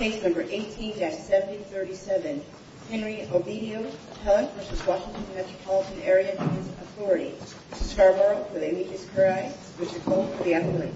18-7037 Henry Oviedo v. Washington M.A.A. v. Scarborough v. A.P.R.I. v. C.O.A.L.D.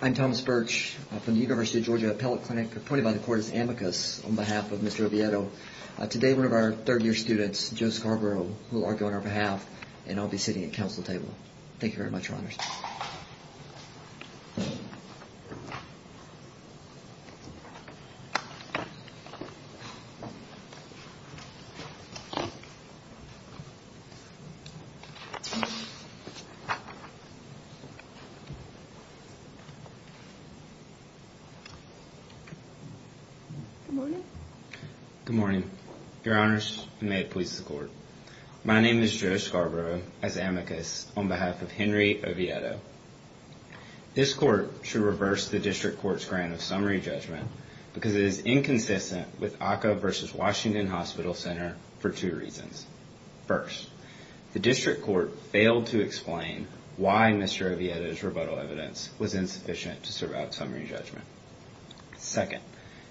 I'm Thomas Birch from the University of Georgia Appellate Clinic appointed by the court as amicus on behalf of Mr. Oviedo. Today one of our third year students Joe Scarborough who will argue on our behalf and I'll be sitting at counsel table. Thank you very much your honors. Good morning your honors and may it please the court. My name is Joe Scarborough as amicus on behalf of Henry Oviedo. This court should reverse the district court's grant of summary judgment because it is inconsistent with Occo v. Washington Hospital Center for two reasons. First, the district court failed to explain why Mr. Oviedo's rebuttal evidence was insufficient to survive summary judgment. Second,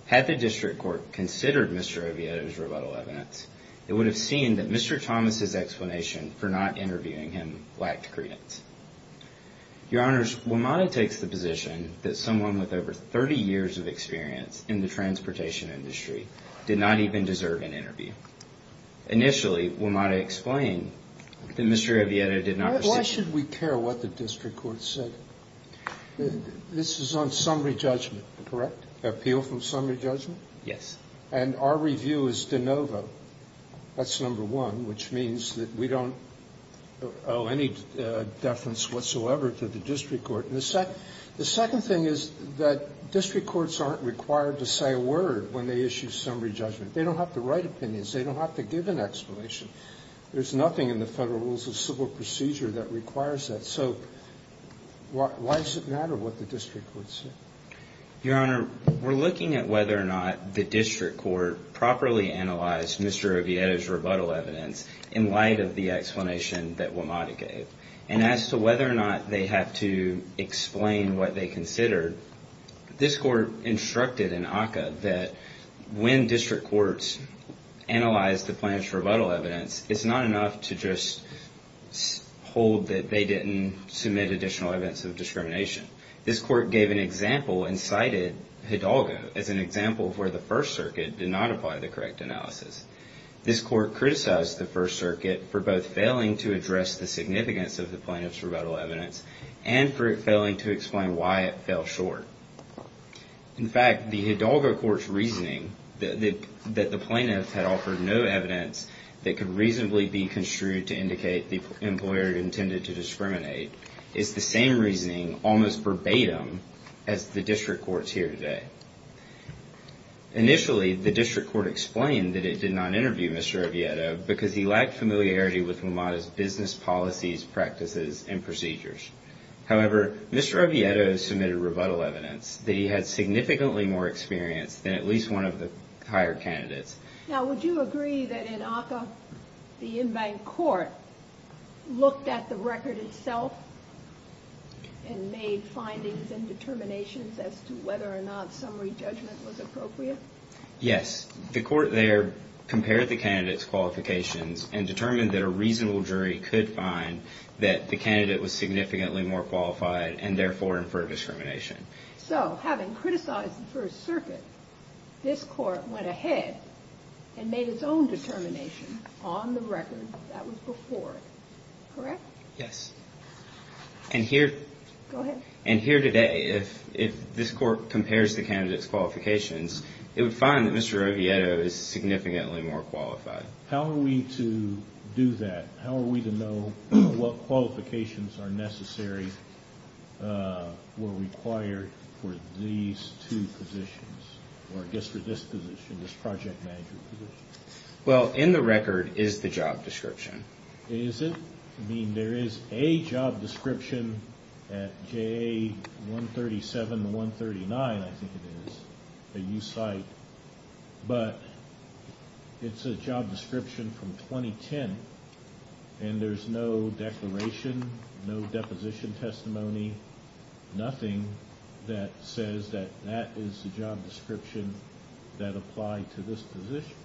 had the district court considered Mr. Oviedo's rebuttal evidence, it would have seen that Mr. Thomas' explanation for not interviewing him lacked credence. Your honors, WMATA takes the position that someone with over 30 years of experience in the transportation industry did not even deserve an interview. Initially, WMATA explained that Mr. Oviedo did not... Why should we care what the district court said? This is on summary judgment, correct? Appeal from summary judgment? Yes. And our review is de novo. That's number one, which means that we don't owe any deference whatsoever to the district court. The second thing is that district courts aren't required to say a word when they issue summary judgment. They don't have to write opinions. They don't have to give an explanation. There's nothing in the Federal Rules of Civil Procedure that requires that. So why does it matter what the district court said? Your honor, we're looking at whether or not the district court properly analyzed Mr. Oviedo's rebuttal evidence in light of the explanation that WMATA gave. And as to whether or not they have to explain what they considered, this court instructed in ACCA that when district courts analyze the plaintiff's rebuttal evidence, it's not enough to just hold that they didn't submit additional evidence of discrimination. This court gave an example and cited Hidalgo as an example of where the First Circuit did not apply the correct analysis. This court criticized the First Circuit for both failing to address the significance of the plaintiff's rebuttal evidence and for it failing to explain why it fell short. In fact, the Hidalgo court's reasoning that the plaintiff had offered no evidence that could reasonably be construed to indicate the employer intended to discriminate is the same reasoning, almost verbatim, as the district court's here today. Initially, the district court explained that it did not interview Mr. Oviedo because he lacked familiarity with WMATA's business policies, practices, and procedures. However, Mr. Oviedo submitted rebuttal evidence that he had significantly more experience than at least one of the higher candidates. Now, would you agree that in ACCA, the in-bank court looked at the record itself and made findings and determinations as to whether or not summary judgment was appropriate? Yes. The court there compared the candidate's qualifications and determined that a reasonable jury could find that the candidate was significantly more qualified and, therefore, infer discrimination. So, having criticized the First Circuit, this court went ahead and made its own determination on the record that was before it. Correct? Yes. Go ahead. And here today, if this court compares the candidate's qualifications, it would find that Mr. Oviedo is significantly more qualified. How are we to do that? How are we to know what qualifications are necessary or required for these two positions, or I guess for this position, this project management position? Well, in the record is the job description. Is it? I mean, there is a job description at JA 137 and 139, I think it is, a new site, but it's a job description from 2010, and there's no declaration, no deposition testimony, nothing that says that that is the job description that applied to this position.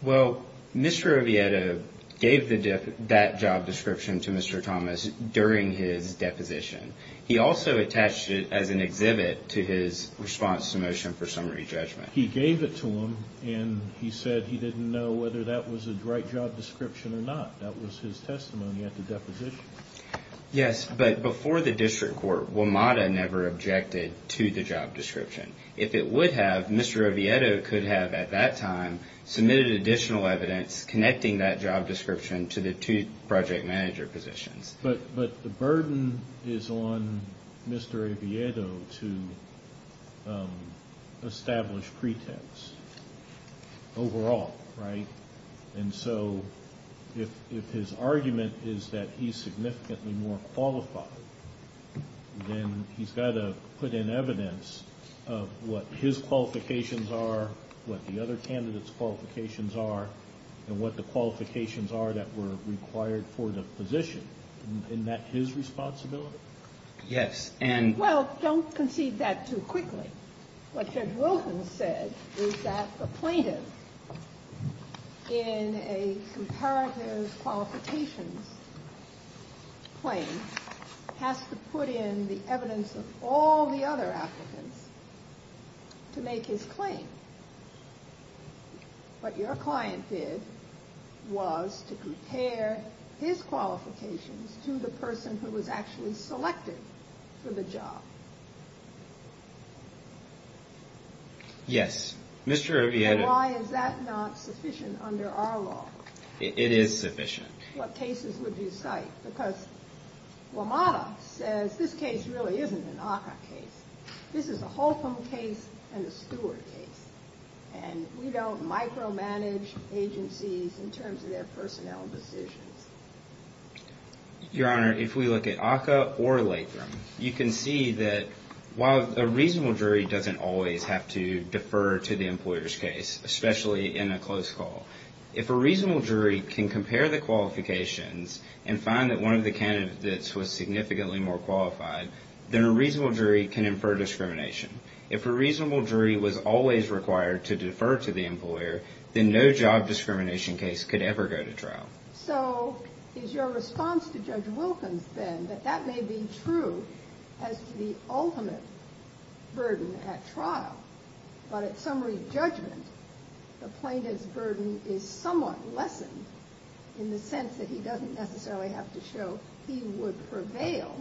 Well, Mr. Oviedo gave that job description to Mr. Thomas during his deposition. He also attached it as an exhibit to his response to motion for summary judgment. He gave it to him, and he said he didn't know whether that was the right job description or not. That was his testimony at the deposition. Yes, but before the district court, WMATA never objected to the job description. If it would have, Mr. Oviedo could have at that time submitted additional evidence connecting that job description to the two project manager positions. But the burden is on Mr. Oviedo to establish pretext overall, right? And so if his argument is that he's significantly more qualified, then he's got to put in evidence of what his qualifications are, what the other candidates' qualifications are, and what the qualifications are that were required for the position. Isn't that his responsibility? Yes. And well, don't concede that too quickly. What Judge Wilson said is that the plaintiff in a comparative qualifications claim has to put in the evidence of all the other applicants to make his claim. What your client did was to compare his qualifications to the person who was actually selected for the job. Yes. Mr. Oviedo. And why is that not sufficient under our law? It is sufficient. Your Honor, if we look at ACCA or Lathram, you can see that while a reasonable jury doesn't always have to defer to the employer's case, especially in a close call, if a reasonable jury can compare the qualifications to the person who was selected for the job, it's not sufficient. If a reasonable jury can compare the qualifications and find that one of the candidates was significantly more qualified, then a reasonable jury can infer discrimination. If a reasonable jury was always required to defer to the employer, then no job discrimination case could ever go to trial. So is your response to Judge Wilkins, then, that that may be true as to the ultimate burden at trial, but at summary judgment, the plaintiff's burden is somewhat lessened in the sense that he doesn't necessarily have to show he would prevail,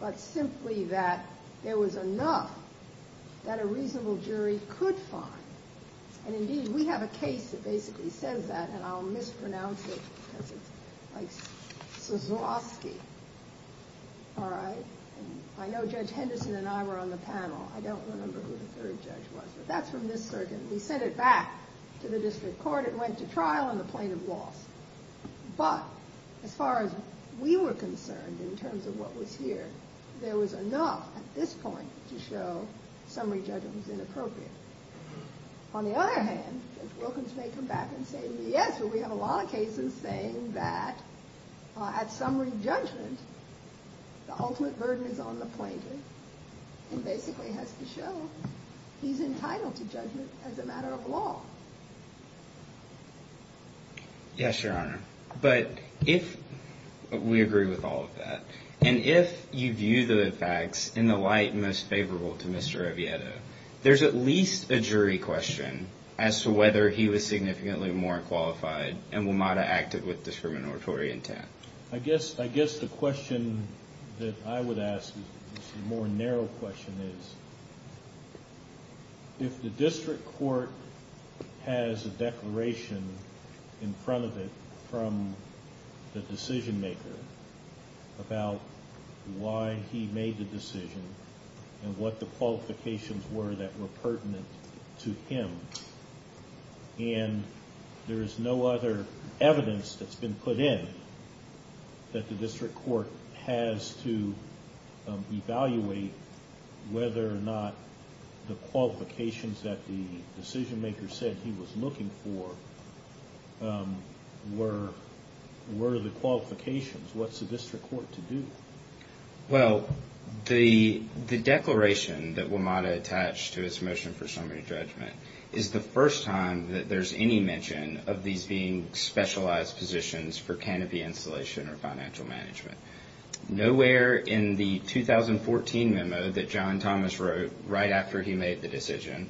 but simply that there was enough that a reasonable jury could find. And indeed, we have a case that basically says that, and I'll mispronounce it because it's like Soskowsky, all right? I know Judge Henderson and I were on the panel. I don't remember who the third judge was, but that's from this circuit. We sent it back to the district court. It went to trial and the plaintiff lost. But as far as we were concerned in terms of what was here, there was enough at this point to show summary judgment was inappropriate. On the other hand, Judge Wilkins may come back and say, yes, but we have a lot of cases saying that at summary judgment, the ultimate burden is on the plaintiff and basically has to show he's entitled to judgment as a matter of law. Yes, Your Honor. But if we agree with all of that, and if you view the facts in the light most favorable to Mr. Oviedo, there's at least a jury question as to whether he was significantly more qualified and will not have acted with discriminatory intent. I guess the question that I would ask is a more narrow question is, if the district court has a declaration in front of it from the decision maker about why he made the decision and what the qualifications were that were pertinent to him, and there is no other evidence that's been put in that the district court has to evaluate whether or not the qualifications that the decision maker said he was looking for were the qualifications, what's the district court to do? Well, the declaration that WMATA attached to his motion for summary judgment is the first time that there's any mention of these being specialized positions for canopy installation or financial management. Nowhere in the 2014 memo that John Thomas wrote right after he made the decision,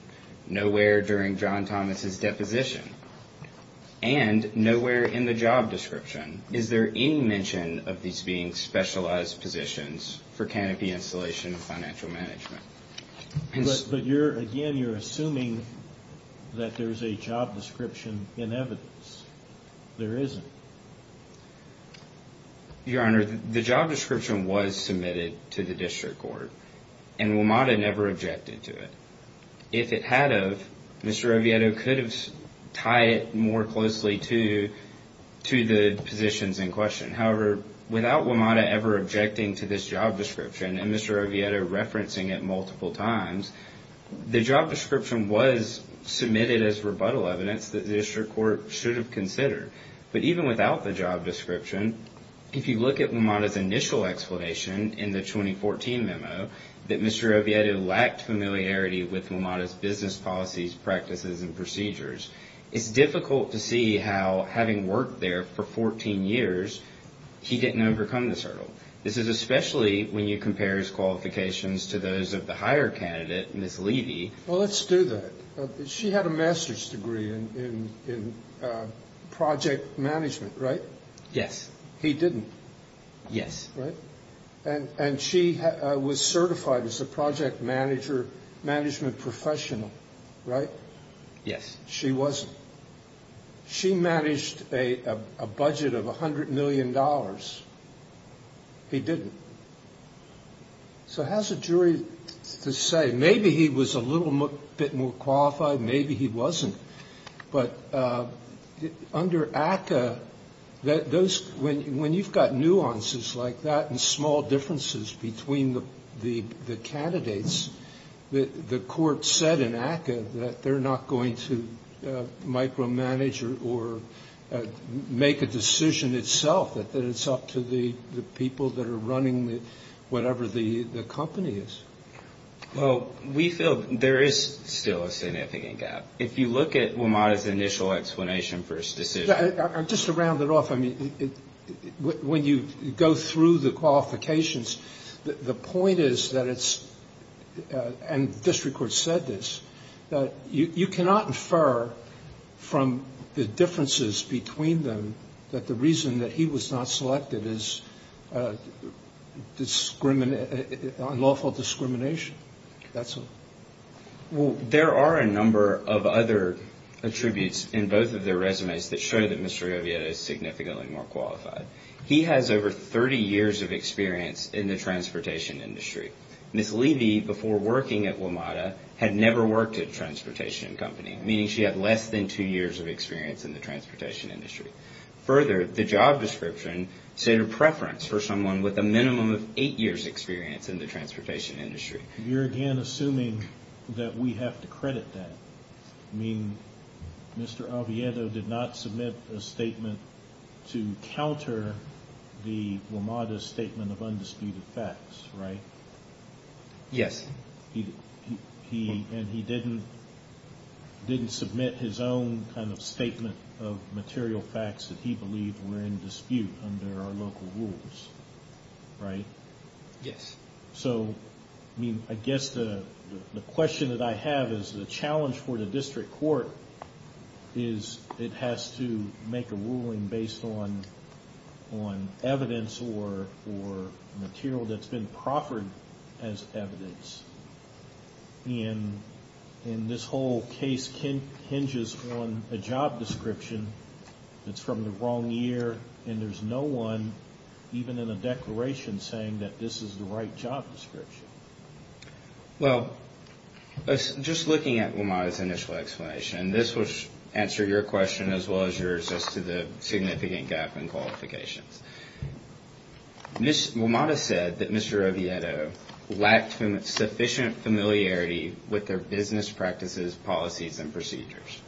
nowhere during John Thomas's deposition, and nowhere in the job description is there any mention of these being specialized positions for canopy installation and financial management. But again, you're assuming that there's a job description in evidence. There isn't. Your Honor, the job description was submitted to the district court, and WMATA never objected to it. If it had of, Mr. Oviedo could have tied it more closely to the positions in question. However, without WMATA ever objecting to this job description and Mr. Oviedo referencing it multiple times, the job description was submitted as rebuttal evidence that the district court should have considered. But even without the job description, if you look at WMATA's initial explanation in the 2014 memo that Mr. Oviedo lacked familiarity with WMATA's business policies, practices, and procedures, it's difficult to see how having worked there for 14 years, he didn't overcome this hurdle. This is especially when you compare his qualifications to those of the higher candidate, Ms. Levy. Well, let's do that. She had a master's degree in project management, right? Yes. He didn't. Yes. Right? And she was certified as a project management professional, right? Yes. She wasn't. She managed a budget of $100 million. He didn't. So how's a jury to say maybe he was a little bit more qualified, maybe he wasn't? But under ACCA, when you've got nuances like that and small differences between the candidates, the court said in ACCA that they're not going to micromanage or make a decision itself, that it's up to the people that are running whatever the company is. Well, we feel there is still a significant gap. If you look at WMATA's initial explanation for his decision. Just to round it off, I mean, when you go through the qualifications, the point is that it's, and district courts said this, that you cannot infer from the differences between them that the reason that he was not selected is lawful discrimination. That's all. Well, there are a number of other attributes in both of their resumes that show that Mr. Jovieto is significantly more qualified. He has over 30 years of experience in the transportation industry. Ms. Levy, before working at WMATA, had never worked at a transportation company, meaning she had less than two years of experience in the transportation industry. Further, the job description said a preference for someone with a minimum of eight years experience in the transportation industry. You're again assuming that we have to credit that. I mean, Mr. Oviedo did not submit a statement to counter the WMATA statement of undisputed facts, right? Yes. And he didn't submit his own kind of statement of material facts that he believed were in dispute under our local rules, right? Yes. So, I mean, I guess the question that I have is the challenge for the district court is it has to make a ruling based on evidence or material that's been proffered as evidence. And this whole case hinges on a job description that's from the wrong year, and there's no one, even in the declaration, saying that this is the right job description. Well, just looking at WMATA's initial explanation, this will answer your question as well as yours as to the significant gap in qualifications. WMATA said that Mr. Oviedo lacked sufficient familiarity with their business practices, policies, and procedures.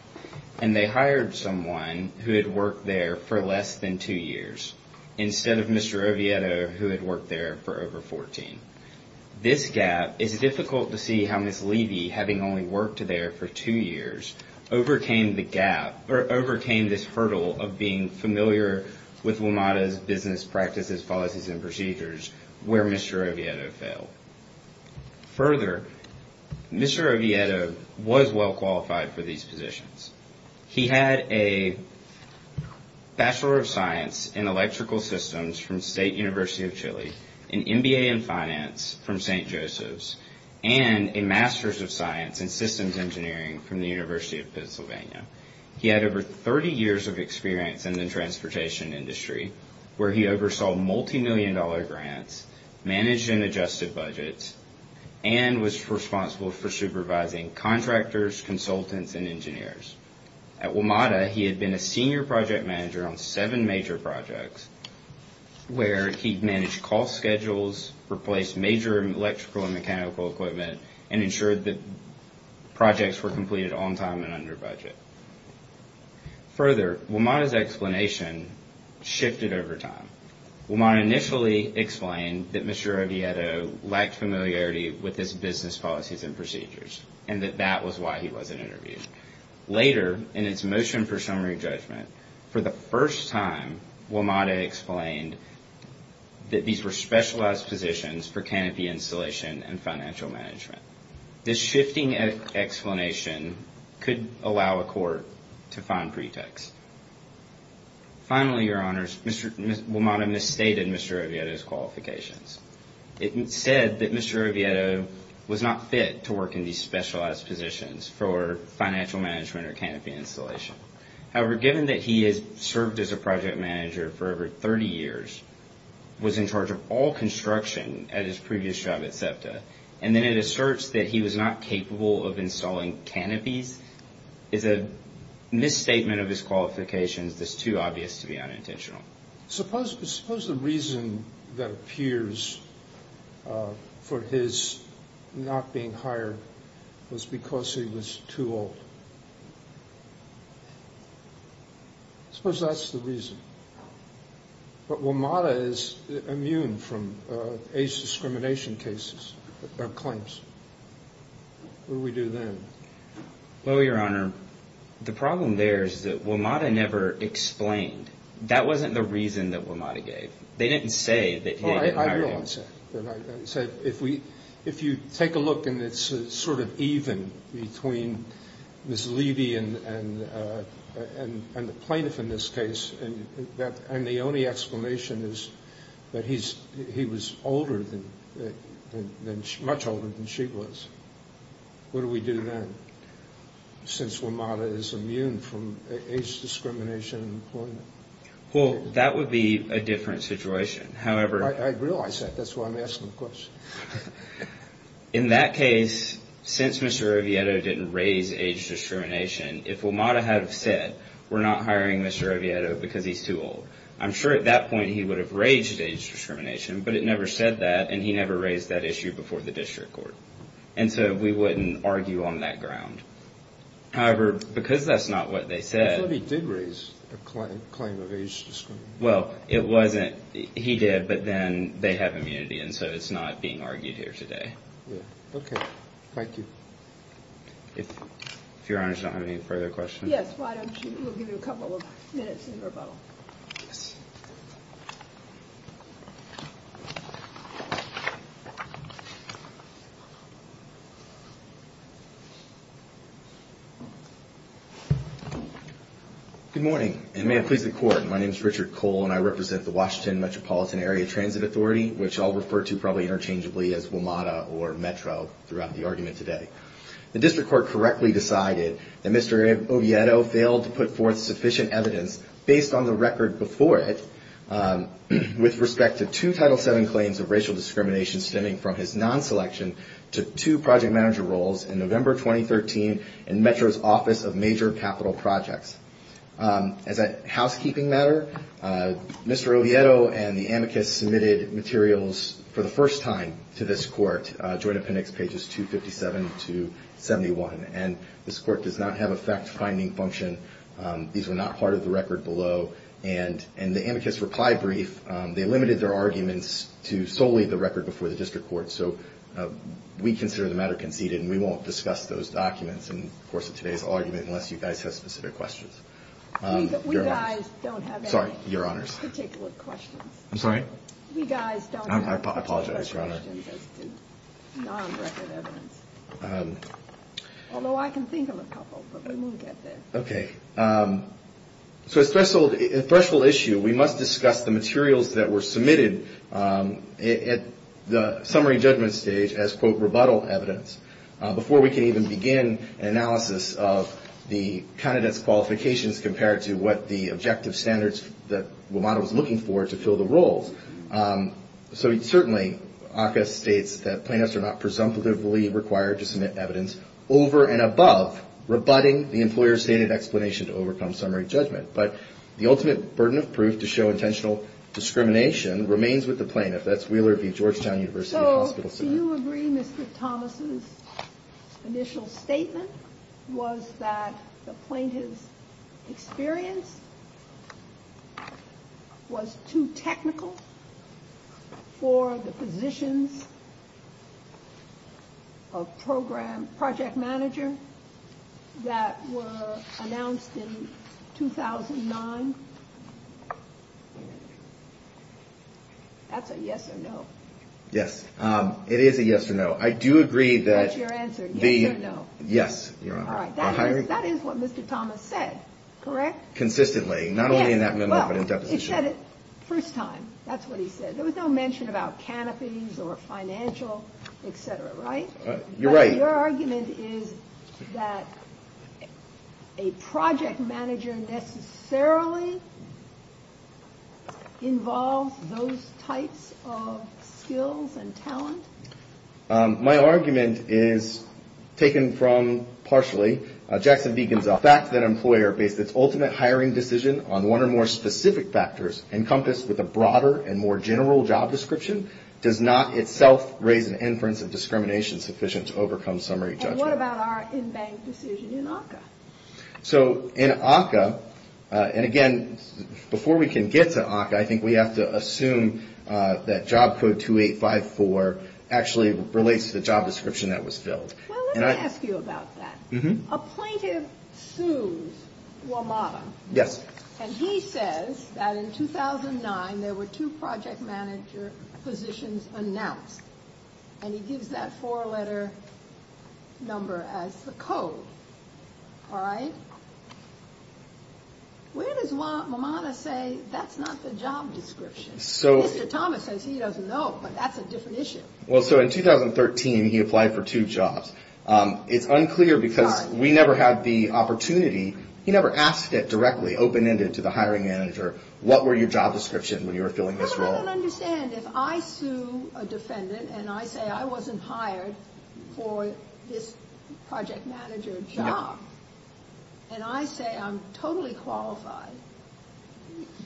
And they hired someone who had worked there for less than two years instead of Mr. Oviedo who had worked there for over 14. This gap is difficult to see how Ms. Levy, having only worked there for two years, overcame the gap or overcame this hurdle of being familiar with WMATA's business practices, policies, and procedures where Mr. Oviedo failed. Further, Mr. Oviedo was well-qualified for these positions. He had a Bachelor of Science in Electrical Systems from State University of Chile, an MBA in Finance from St. Joseph's, and a Master's of Science in Systems Engineering from the University of Pennsylvania. He had over 30 years of experience in the transportation industry where he oversaw multimillion-dollar grants, managed and adjusted budgets, and was responsible for supervising contractors, consultants, and engineers. At WMATA, he had been a senior project manager on seven major projects where he managed cost schedules, replaced major electrical and mechanical equipment, and ensured that projects were completed on time and under budget. Further, WMATA's explanation shifted over time. WMATA initially explained that Mr. Oviedo lacked familiarity with his business policies and procedures and that that was why he wasn't interviewed. Later, in its motion for summary judgment, for the first time, WMATA explained that these were specialized positions for canopy installation and financial management. This shifting explanation could allow a court to find pretext. Finally, Your Honors, WMATA misstated Mr. Oviedo's qualifications. It said that Mr. Oviedo was not fit to work in these specialized positions for financial management or canopy installation. However, given that he has served as a project manager for over 30 years, was in charge of all construction at his previous job at SEPTA, and then it asserts that he was not capable of installing canopies is a misstatement of his qualifications that's too obvious to be unintentional. Suppose the reason that appears for his not being hired was because he was too old. Suppose that's the reason. But WMATA is immune from age discrimination cases or claims. What do we do then? Well, Your Honor, the problem there is that WMATA never explained. That wasn't the reason that WMATA gave. They didn't say that he didn't hire him. I realize that. If you take a look and it's sort of even between Ms. Levy and the plaintiff in this case, and the only explanation is that he was much older than she was. What do we do then, since WMATA is immune from age discrimination? Well, that would be a different situation. I realize that. That's why I'm asking the question. In that case, since Mr. Oviedo didn't raise age discrimination, if WMATA had said we're not hiring Mr. Oviedo because he's too old, I'm sure at that point he would have raged at age discrimination, but it never said that, and he never raised that issue before the district court. And so we wouldn't argue on that ground. However, because that's not what they said. I thought he did raise a claim of age discrimination. Well, it wasn't. He did, but then they have immunity, and so it's not being argued here today. Okay. Thank you. If Your Honor does not have any further questions. Yes, why don't you, we'll give you a couple of minutes in rebuttal. Yes. Good morning, and may it please the Court. My name is Richard Cole, and I represent the Washington Metropolitan Area Transit Authority, which I'll refer to probably interchangeably as WMATA or Metro throughout the argument today. The district court correctly decided that Mr. Oviedo failed to put forth sufficient evidence based on the record before it with respect to two Title VII claims of racial discrimination stemming from his non-selection to two project manager roles in November 2013 in Metro's Office of Major Capital Projects. As a housekeeping matter, Mr. Oviedo and the amicus submitted materials for the first time to this court, Joint Appendix pages 257 to 71, and this court does not have a fact-finding function. These were not part of the record below, and in the amicus reply brief, they limited their arguments to solely the record before the district court. So we consider the matter conceded, and we won't discuss those documents in the course of today's argument unless you guys have specific questions. We guys don't have any particular questions. I'm sorry? We guys don't have any particular questions as to non-record evidence, although I can think of a couple, but we won't get there. Okay. So as a threshold issue, we must discuss the materials that were submitted at the summary judgment stage as, quote, rebuttal evidence before we can even begin an analysis of the candidate's qualifications compared to what the objective standards that WMATA was looking for to fill the roles. So certainly ACCA states that plaintiffs are not presumptively required to submit evidence over and above rebutting the employer's stated explanation to overcome summary judgment. But the ultimate burden of proof to show intentional discrimination remains with the plaintiff. That's Wheeler v. Georgetown University Hospital Center. So do you agree Mr. Thomas' initial statement was that the plaintiff's experience was too technical for the positions of project manager that were announced in 2009? That's a yes or no. Yes. It is a yes or no. I do agree that the — That's your answer, yes or no. Yes. All right. That is what Mr. Thomas said, correct? Consistently. Not only in that memo, but in deposition. Well, he said it the first time. That's what he said. There was no mention about canopies or financial, et cetera, right? You're right. Your argument is that a project manager necessarily involves those types of skills and talent? My argument is taken from, partially, Jackson v. Gonzales. The fact that an employer based its ultimate hiring decision on one or more specific factors, encompassed with a broader and more general job description, does not itself raise an inference of discrimination sufficient to overcome summary judgment. And what about our in-bank decision in ACCA? So, in ACCA, and again, before we can get to ACCA, I think we have to assume that Job Code 2854 actually relates to the job description that was filled. Well, let me ask you about that. A plaintiff sues WMATA. Yes. And he says that in 2009, there were two project manager positions announced. And he gives that four-letter number as the code. All right? Where does WMATA say that's not the job description? Mr. Thomas says he doesn't know, but that's a different issue. Well, so in 2013, he applied for two jobs. It's unclear because we never had the opportunity. He never asked it directly, open-ended, to the hiring manager, what were your job descriptions when you were filling this role. No, but I don't understand. If I sue a defendant and I say I wasn't hired for this project manager job, and I say I'm totally qualified,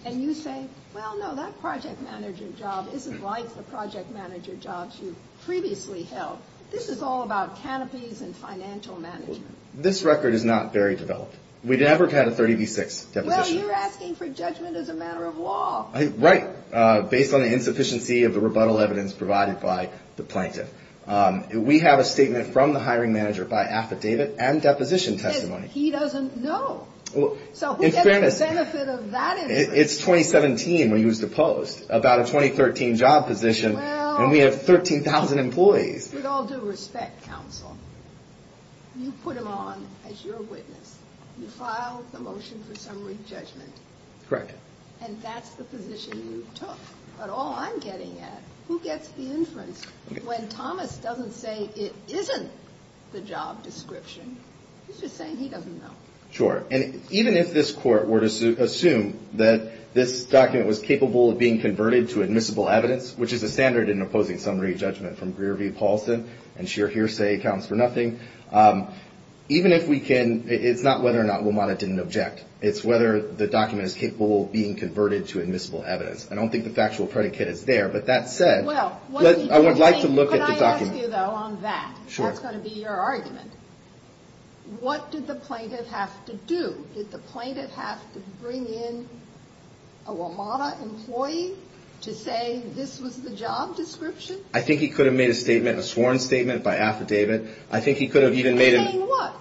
and you say, well, no, that project manager job isn't like the project manager jobs you previously held. This is all about canopies and financial management. This record is not very developed. We've never had a 30 v. 6 deposition. Well, you're asking for judgment as a matter of law. Right, based on the insufficiency of the rebuttal evidence provided by the plaintiff. We have a statement from the hiring manager by affidavit and deposition testimony. He doesn't know. So who gets the benefit of that information? It's 2017 when he was deposed, about a 2013 job position, and we have 13,000 employees. With all due respect, counsel, you put him on as your witness. You filed the motion for summary judgment. Correct. And that's the position you took. But all I'm getting at, who gets the inference? When Thomas doesn't say it isn't the job description, he's just saying he doesn't know. Sure. And even if this court were to assume that this document was capable of being converted to admissible evidence, which is a standard in opposing summary judgment from Greer v. Paulson, and sheer hearsay counts for nothing, even if we can, it's not whether or not WMATA didn't object. It's whether the document is capable of being converted to admissible evidence. I don't think the factual predicate is there. But that said, I would like to look at the document. Can I ask you, though, on that? Sure. That's going to be your argument. What did the plaintiff have to do? Did the plaintiff have to bring in a WMATA employee to say this was the job description? I think he could have made a statement, a sworn statement by affidavit. I think he could have even made it. By saying what?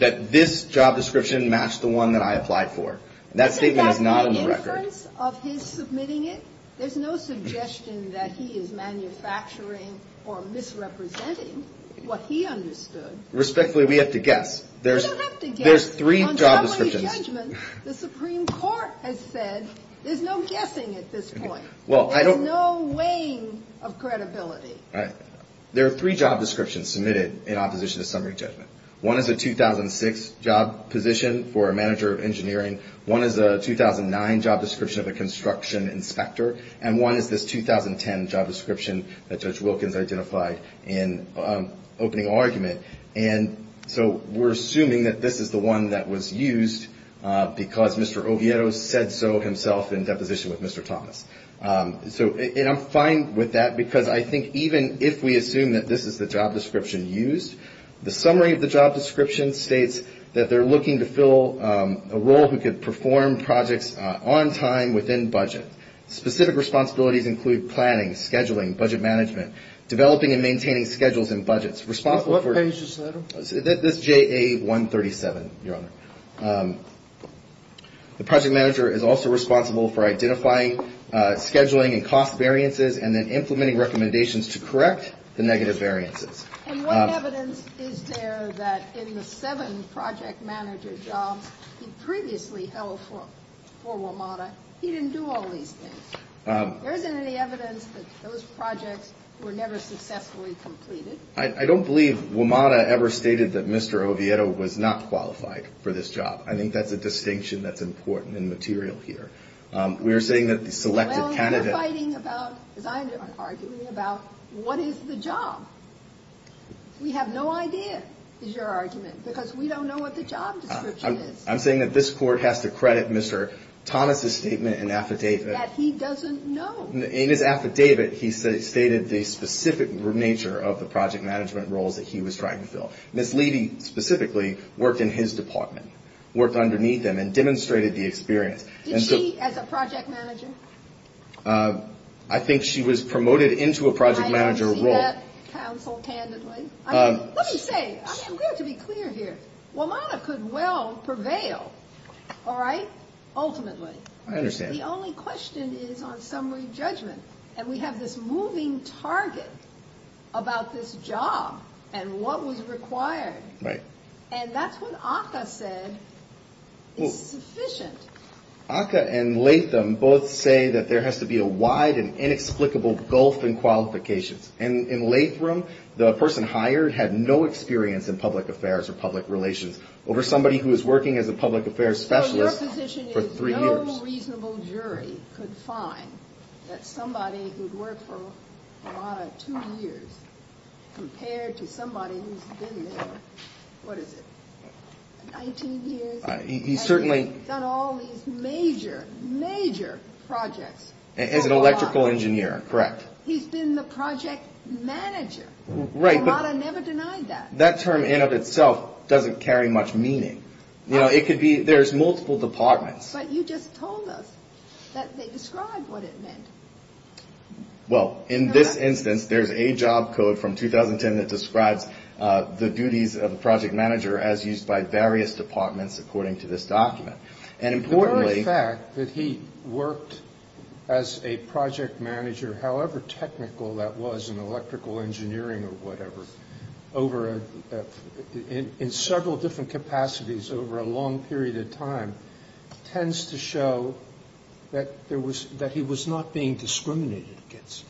That this job description matched the one that I applied for. That statement is not on the record. Isn't that the inference of his submitting it? There's no suggestion that he is manufacturing or misrepresenting what he understood. Respectfully, we have to guess. We don't have to guess. On summary judgment, the Supreme Court has said there's no guessing at this point. There's no weighing of credibility. There are three job descriptions submitted in opposition to summary judgment. One is a 2006 job position for a manager of engineering. One is a 2009 job description of a construction inspector. And one is this 2010 job description that Judge Wilkins identified in opening argument. And so we're assuming that this is the one that was used because Mr. Oviedo said so himself in deposition with Mr. Thomas. And I'm fine with that because I think even if we assume that this is the job description used, the summary of the job description states that they're looking to fill a role who could perform projects on time within budget. Specific responsibilities include planning, scheduling, budget management, developing and maintaining schedules and budgets. What page is that on? That's JA-137, Your Honor. The project manager is also responsible for identifying scheduling and cost variances and then implementing recommendations to correct the negative variances. And what evidence is there that in the seven project manager jobs he previously held for WMATA he didn't do all these things? There isn't any evidence that those projects were never successfully completed? I don't believe WMATA ever stated that Mr. Oviedo was not qualified for this job. I think that's a distinction that's important and material here. We are saying that the selected candidate. Well, you're fighting about, as I am arguing about, what is the job? We have no idea is your argument because we don't know what the job description is. I'm saying that this court has to credit Mr. Thomas' statement and affidavit. That he doesn't know. In his affidavit he stated the specific nature of the project management roles that he was trying to fill. Ms. Levy specifically worked in his department, worked underneath him and demonstrated the experience. Did she as a project manager? I think she was promoted into a project manager role. I see that counsel candidly. Let me say, I'm going to be clear here. WMATA could well prevail, all right, ultimately. I understand. The only question is on summary judgment. And we have this moving target about this job and what was required. Right. And that's what ACCA said is sufficient. ACCA and Latham both say that there has to be a wide and inexplicable gulf in qualifications. And in Latham, the person hired had no experience in public affairs or public relations. Over somebody who was working as a public affairs specialist for three years. So your position is no reasonable jury could find that somebody who'd worked for WMATA two years compared to somebody who's been there, what is it, 19 years? He certainly. Done all these major, major projects. As an electrical engineer, correct. He's been the project manager. Right. WMATA never denied that. That term in of itself doesn't carry much meaning. You know, it could be there's multiple departments. But you just told us that they described what it meant. Well, in this instance, there's a job code from 2010 that describes the duties of a project manager as used by various departments, according to this document. The very fact that he worked as a project manager, however technical that was in electrical engineering or whatever, in several different capacities over a long period of time, tends to show that he was not being discriminated against.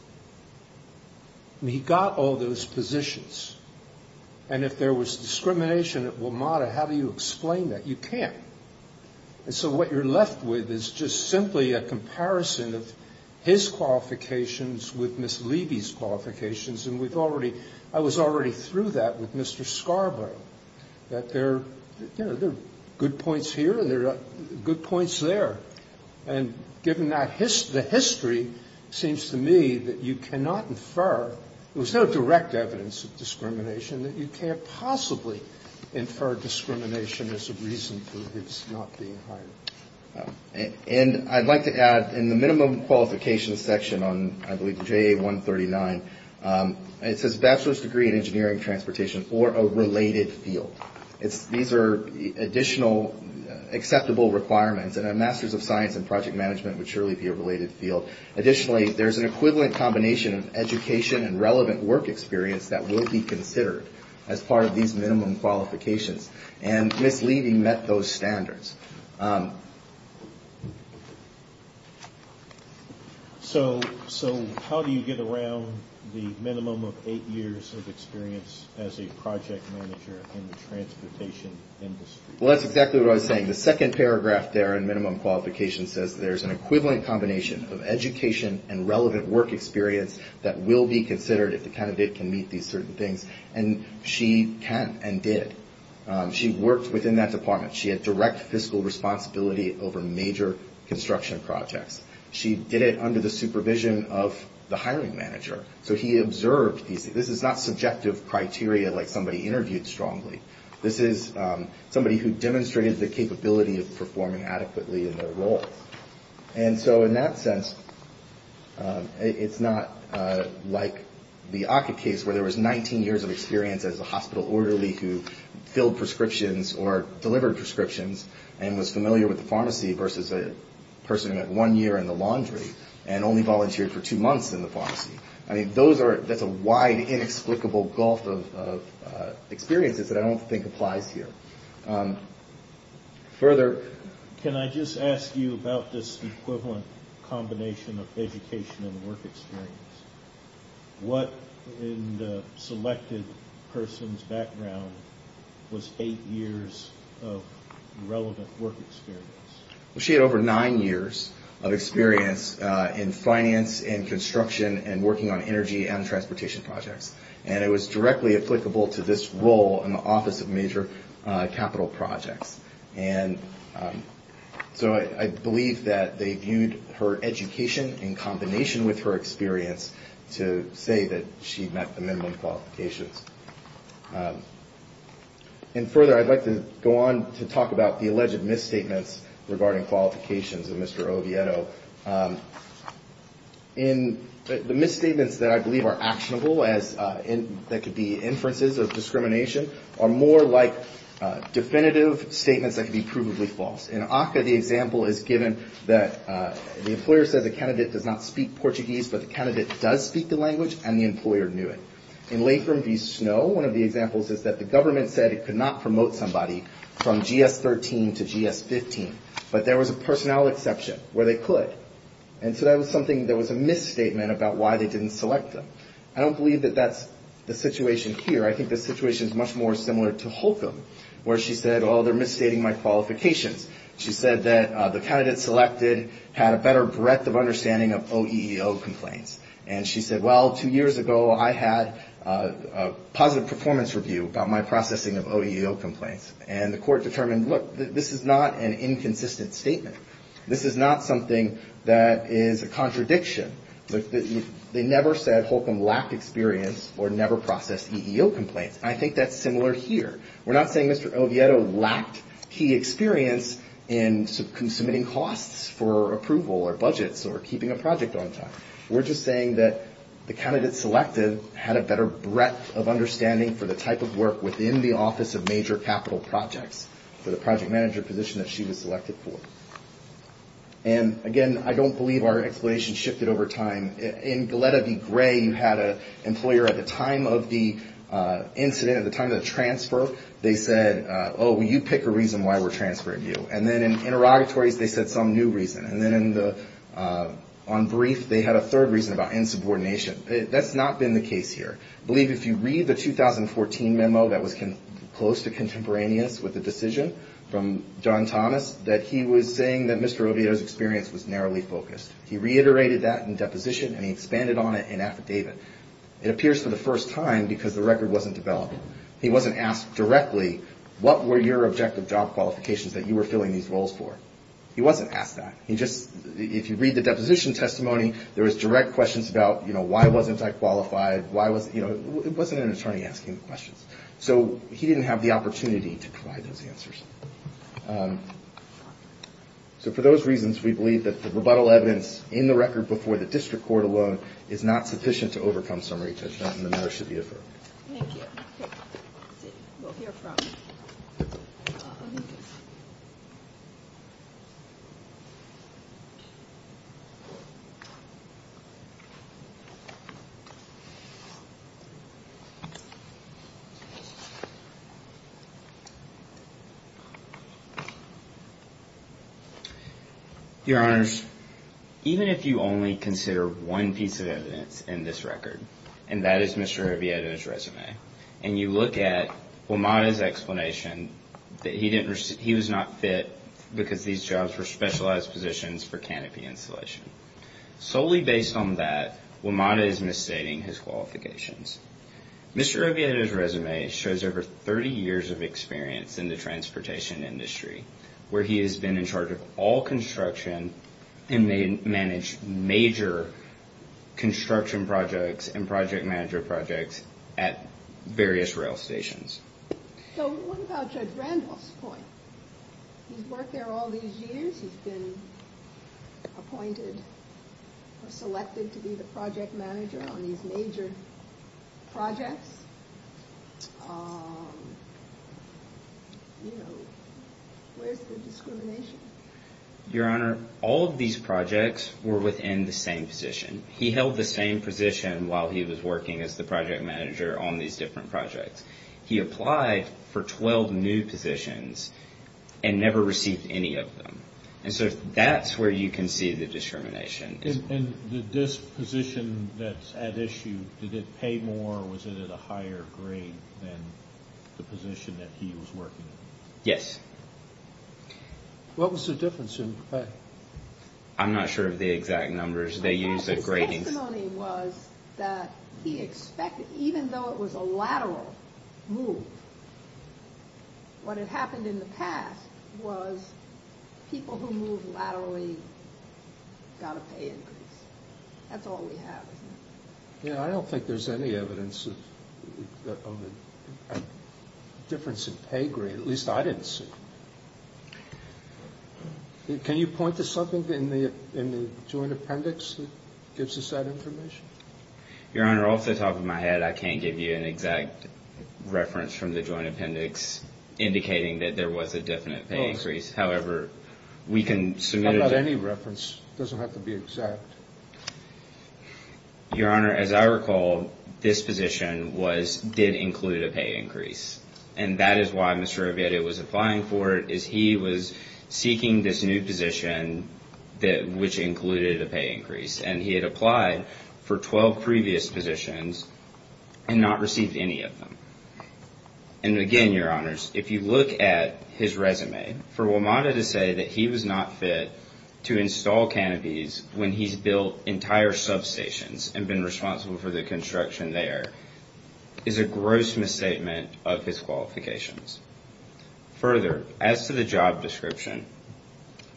He got all those positions. And if there was discrimination at WMATA, how do you explain that? You can't. And so what you're left with is just simply a comparison of his qualifications with Ms. Levy's qualifications. And we've already ‑‑ I was already through that with Mr. Scarborough, that there are good points here and there are good points there. And given the history, it seems to me that you cannot infer, there was no direct evidence of discrimination, that you can't possibly infer discrimination as a reason for his not being hired. And I'd like to add, in the minimum qualifications section on, I believe, JA139, it says bachelor's degree in engineering and transportation for a related field. These are additional acceptable requirements. And a master's of science in project management would surely be a related field. Additionally, there's an equivalent combination of education and relevant work experience that will be considered as part of these minimum qualifications. And Ms. Levy met those standards. So how do you get around the minimum of eight years of experience as a project manager in the transportation industry? Well, that's exactly what I was saying. The second paragraph there in minimum qualifications says there's an equivalent combination of education and relevant work experience that will be considered if the candidate can meet these certain things. And she can and did. She worked within that department. She had direct fiscal responsibility over major construction projects. She did it under the supervision of the hiring manager. So he observed these. This is not subjective criteria like somebody interviewed strongly. This is somebody who demonstrated the capability of performing adequately in their role. And so in that sense, it's not like the Ockett case where there was 19 years of experience as a hospital orderly who filled prescriptions or delivered prescriptions and was familiar with the pharmacy versus a person who met one year in the laundry and only volunteered for two months in the pharmacy. I mean, that's a wide, inexplicable gulf of experiences that I don't think applies here. Further. Can I just ask you about this equivalent combination of education and work experience? What in the selected person's background was eight years of relevant work experience? She had over nine years of experience in finance and construction and working on energy and transportation projects. And it was directly applicable to this role in the Office of Major Capital Projects. And so I believe that they viewed her education in combination with her experience to say that she met the minimum qualifications. And further, I'd like to go on to talk about the alleged misstatements regarding qualifications of Mr. Oviedo. In the misstatements that I believe are actionable as that could be inferences of discrimination are more like definitive statements that could be provably false. In Ockett, the example is given that the employer said the candidate does not speak Portuguese, but the candidate does speak the language and the employer knew it. In Latham v. Snow, one of the examples is that the government said it could not promote somebody from GS-13 to GS-15. But there was a personnel exception where they could. And so that was something that was a misstatement about why they didn't select them. I don't believe that that's the situation here. I think the situation is much more similar to Holcomb, where she said, oh, they're misstating my qualifications. She said that the candidate selected had a better breadth of understanding of OEO complaints. And she said, well, two years ago I had a positive performance review about my processing of OEO complaints. And the court determined, look, this is not an inconsistent statement. This is not something that is a contradiction. They never said Holcomb lacked experience or never processed EEO complaints. I think that's similar here. We're not saying Mr. Oviedo lacked key experience in submitting costs for approval or budgets or keeping a project on time. We're just saying that the candidate selected had a better breadth of understanding for the type of work within the Office of Major Capital Projects for the project manager position that she was selected for. And, again, I don't believe our explanation shifted over time. In Galletta v. Gray, you had an employer at the time of the incident, at the time of the transfer, they said, oh, you pick a reason why we're transferring you. And then in interrogatories they said some new reason. And then on brief, they had a third reason about insubordination. That's not been the case here. I believe if you read the 2014 memo that was close to contemporaneous with the decision from John Thomas, that he was saying that Mr. Oviedo's experience was narrowly focused. And he expanded on it in affidavit. It appears for the first time because the record wasn't developed. He wasn't asked directly, what were your objective job qualifications that you were filling these roles for? He wasn't asked that. If you read the deposition testimony, there was direct questions about, you know, why wasn't I qualified? It wasn't an attorney asking the questions. So he didn't have the opportunity to provide those answers. So for those reasons, we believe that the rebuttal evidence in the record before the district court alone is not sufficient to overcome summary judgment and the matter should be deferred. Your Honors, even if you only consider one piece of evidence in this record, and that is Mr. Oviedo's resume, and you look at WMATA's explanation that he was not fit because these jobs were specialized positions for canopy installation. Solely based on that, WMATA is misstating his qualifications. Mr. Oviedo's resume shows over 30 years of experience in the transportation industry, where he has been in charge of all construction and managed major construction projects and project manager projects at various rail stations. So what about Judge Randolph's point? He was selected to be the project manager on these major projects. Your Honor, all of these projects were within the same position. He held the same position while he was working as the project manager on these different projects. He applied for 12 new positions and never received any of them. And so that's where you can see the discrimination. And this position that's at issue, did it pay more or was it at a higher grade than the position that he was working in? Yes. What was the difference in pay? I'm not sure of the exact numbers. His testimony was that he expected, even though it was a lateral move, what had happened in the past was people who moved laterally got a pay increase. That's all we have. I don't think there's any evidence of a difference in pay grade, at least I didn't see. Can you point to something in the joint appendix that gives us that information? Your Honor, off the top of my head, I can't give you an exact reference from the joint appendix indicating that there was a definite pay increase. However, we can submit it. I've got any reference. It doesn't have to be exact. Your Honor, as I recall, this position did include a pay increase. And that is why Mr. Avedo was applying for it, is he was seeking this new position, which included a pay increase. And he had applied for 12 previous positions and not received any of them. And again, Your Honors, if you look at his resume, for WMATA to say that he was not fit to install canopies when he's building a new building, that he built entire substations and been responsible for the construction there, is a gross misstatement of his qualifications. Further, as to the job description,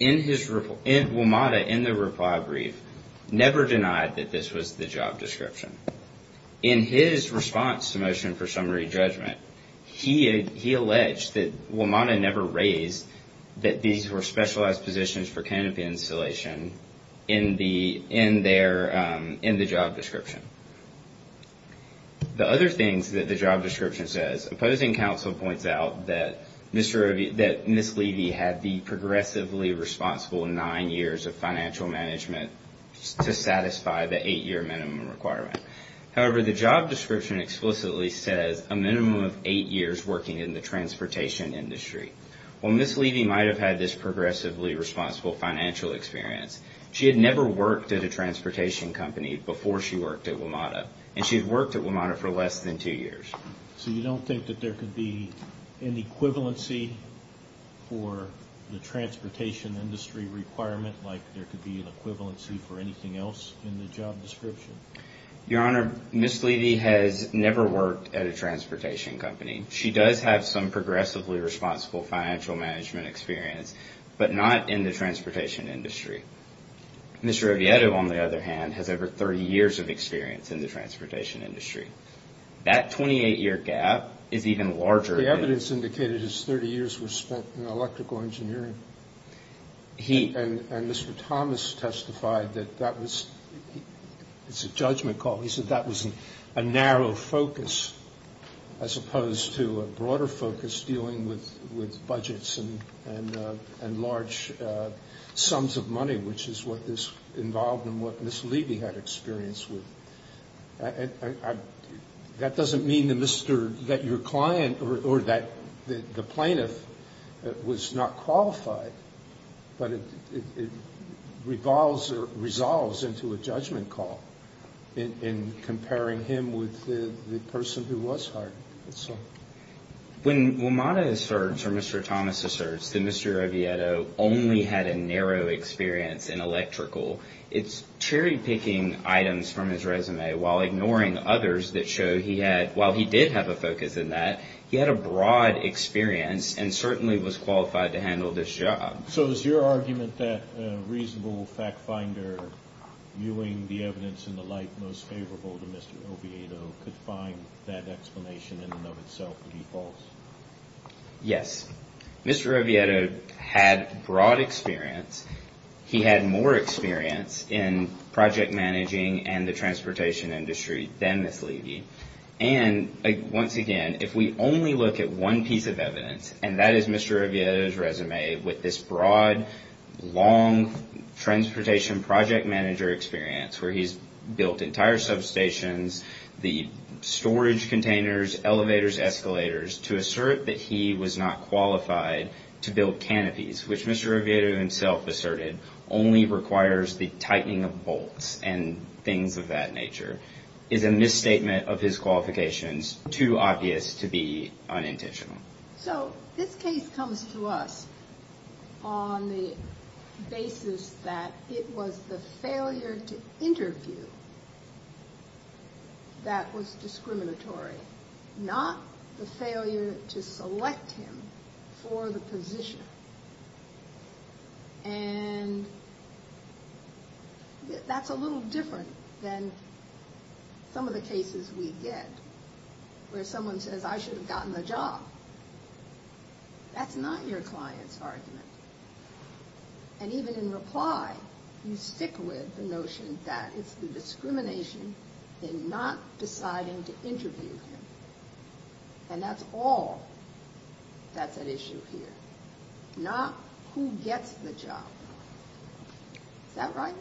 WMATA, in the reply brief, never denied that this was the job description. In his response to Motion for Summary Judgment, he alleged that WMATA never raised that these were specialized positions for canopy installation in the job description. The other things that the job description says, opposing counsel points out that Ms. Levy had been progressively responsible in nine years of financial management to satisfy the eight-year minimum requirement. However, the job description explicitly says a minimum of eight years working in the transportation industry. Well, Ms. Levy might have had this progressively responsible financial experience. She had never worked at a transportation company before she worked at WMATA, and she had worked at WMATA for less than two years. So you don't think that there could be an equivalency for the transportation industry requirement, like there could be an equivalency for anything else in the job description? Your Honor, Ms. Levy has never worked at a transportation company. She does have some progressively responsible financial management experience, but not in the transportation industry. Mr. Rivieretto, on the other hand, has over 30 years of experience in the transportation industry. That 28-year gap is even larger. The evidence indicated his 30 years were spent in electrical engineering, and Mr. Thomas testified that that was a judgment call. As opposed to a broader focus dealing with budgets and large sums of money, which is what this involved and what Ms. Levy had experience with. That doesn't mean that your client or the plaintiff was not qualified, but it resolves into a judgment call in comparing him with the person who was hired. When WMATA asserts, or Mr. Thomas asserts, that Mr. Rivieretto only had a narrow experience in electrical, it's cherry-picking items from his resume, while ignoring others that show he had, while he did have a focus in that, he had a broad experience and certainly was qualified to handle this job. So is your argument that a reasonable fact-finder, viewing the evidence in the light most favorable to Mr. Rivieretto, could find that explanation in Mr. Thomas? Yes, Mr. Rivieretto had broad experience. He had more experience in project managing and the transportation industry than Ms. Levy. And, once again, if we only look at one piece of evidence, and that is Mr. Rivieretto's resume, with this broad, long transportation project manager experience, where he's built entire substations, the storage containers, elevators, all of that. And Mr. Rivieretto's resume, with Mr. Rivieretto's resume, where he's built entire substations, elevators, escalators, to assert that he was not qualified to build canopies, which Mr. Rivieretto himself asserted only requires the tightening of bolts and things of that nature, is a misstatement of his qualifications, too obvious to be unintentional. So this case comes to us on the basis that it was the failure to interview that was discriminatory. Not the failure to select him for the position. And that's a little different than some of the cases we get where someone says, I should have gotten the job. That's not your client's argument. And even in reply, you stick with the notion that it's the discrimination in not deciding to interview him. And that's all that's at issue here. Not who gets the job. Is that right?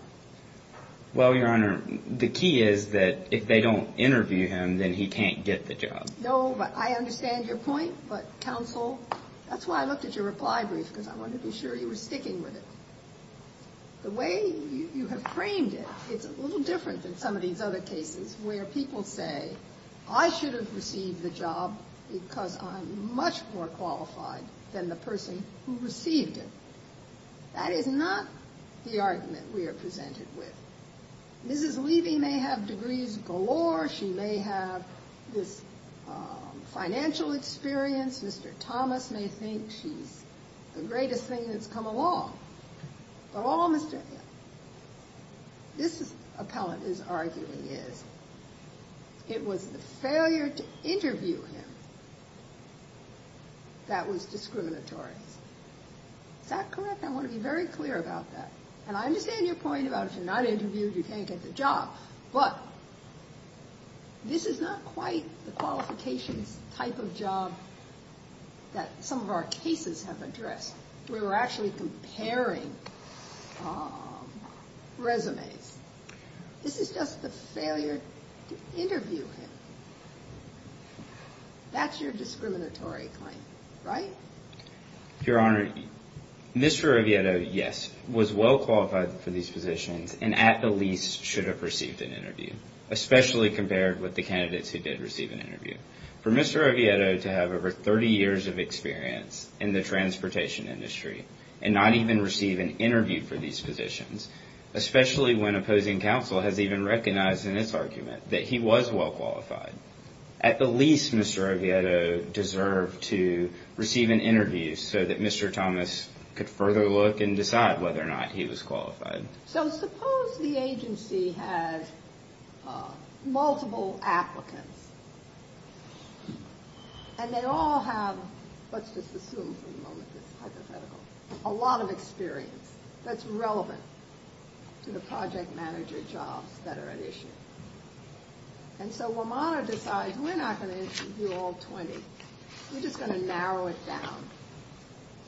Well, Your Honor, the key is that if they don't interview him, then he can't get the job. No, but I understand your point, but counsel, that's why I looked at your reply brief, because I wanted to be sure you were sticking with it. The way you have framed it, it's a little different than some of these other cases where people say, I should have received the job because I'm much more qualified than the person who received it. That is not the argument we are presented with. Mrs. Levy may have degrees galore. She may have this financial experience. Mr. Thomas may think she's the greatest thing that's come along. But all Mr. This appellate is arguing is it was the failure to interview him that was discriminatory. Is that correct? I want to be very clear about that. And I understand your point about if you're not interviewed, you can't get the job. But this is not quite the qualifications type of job that some of our cases have addressed. We were actually comparing resumes. This is just the failure to interview him. That's your discriminatory claim, right? Your Honor, Mr. Oviedo, yes, was well qualified for these positions and at the least should have received an interview, especially compared with the candidates who did receive an interview. For Mr. Oviedo to have over 30 years of experience in the transportation industry and not even receive an interview for these positions, especially when opposing counsel, has even recognized in this argument that he was well qualified. But at the least, Mr. Oviedo deserved to receive an interview so that Mr. Thomas could further look and decide whether or not he was qualified. So suppose the agency has multiple applicants and they all have, let's just assume for the moment this is hypothetical, a lot of experience that's relevant to the project manager jobs that are at issue. And so Wamana decides, we're not going to interview all 20. We're just going to narrow it down.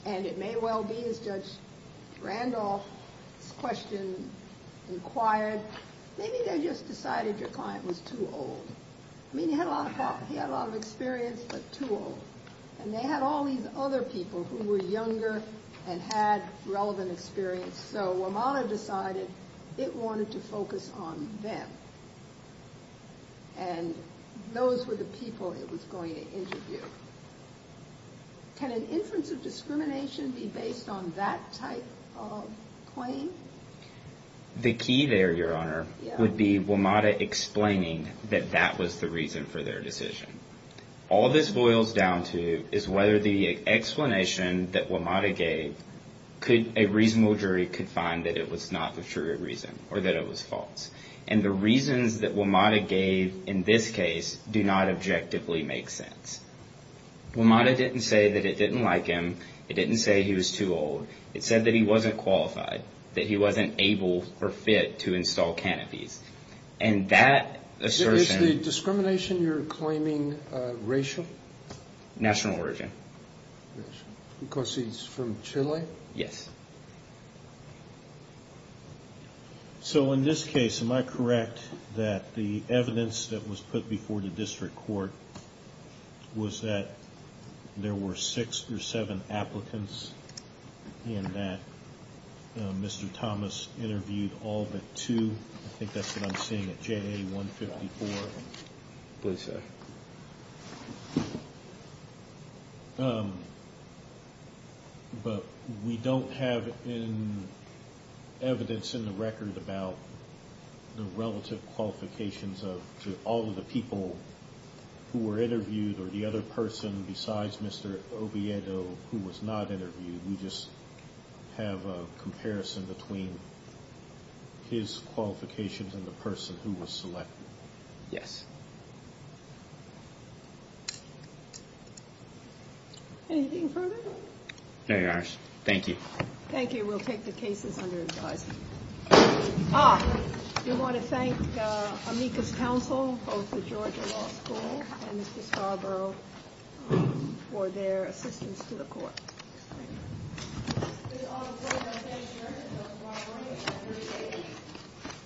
And it may well be, as Judge Randolph's question inquired, maybe they just decided your client was too old. I mean, he had a lot of experience, but too old. And they had all these other people who were younger and had relevant experience. So Wamana decided it wanted to focus on them. And those were the people it was going to interview. Can an inference of discrimination be based on that type of claim? The key there, Your Honor, would be Wamana explaining that that was the reason for their decision. All this boils down to is whether the explanation that Wamana gave, a reasonable jury could find that it was not the true reason or that it was false. And the reasons that Wamana gave in this case do not objectively make sense. Wamana didn't say that it didn't like him. It didn't say he was too old. It said that he wasn't qualified, that he wasn't able or fit to install canopies. And that assertion... Is the discrimination you're claiming racial? National origin. Because he's from Chile? Yes. So in this case, am I correct that the evidence that was put before the district court was that there were six or seven applicants and that Mr. Thomas interviewed all but two? I think that's what I'm seeing at JA-154. Please, sir. But we don't have evidence in the record about the relative qualifications of all of the people who were interviewed, or the other person besides Mr. Oviedo who was not interviewed. We just have a comparison between his qualifications and the person who was selected. Yes. Anything further? No, Your Honor. Thank you. Thank you. We'll take the cases under advisement. I do want to thank the amicus council of the Georgia Law School and Mr. Scarborough for their assistance to the court. Thank you.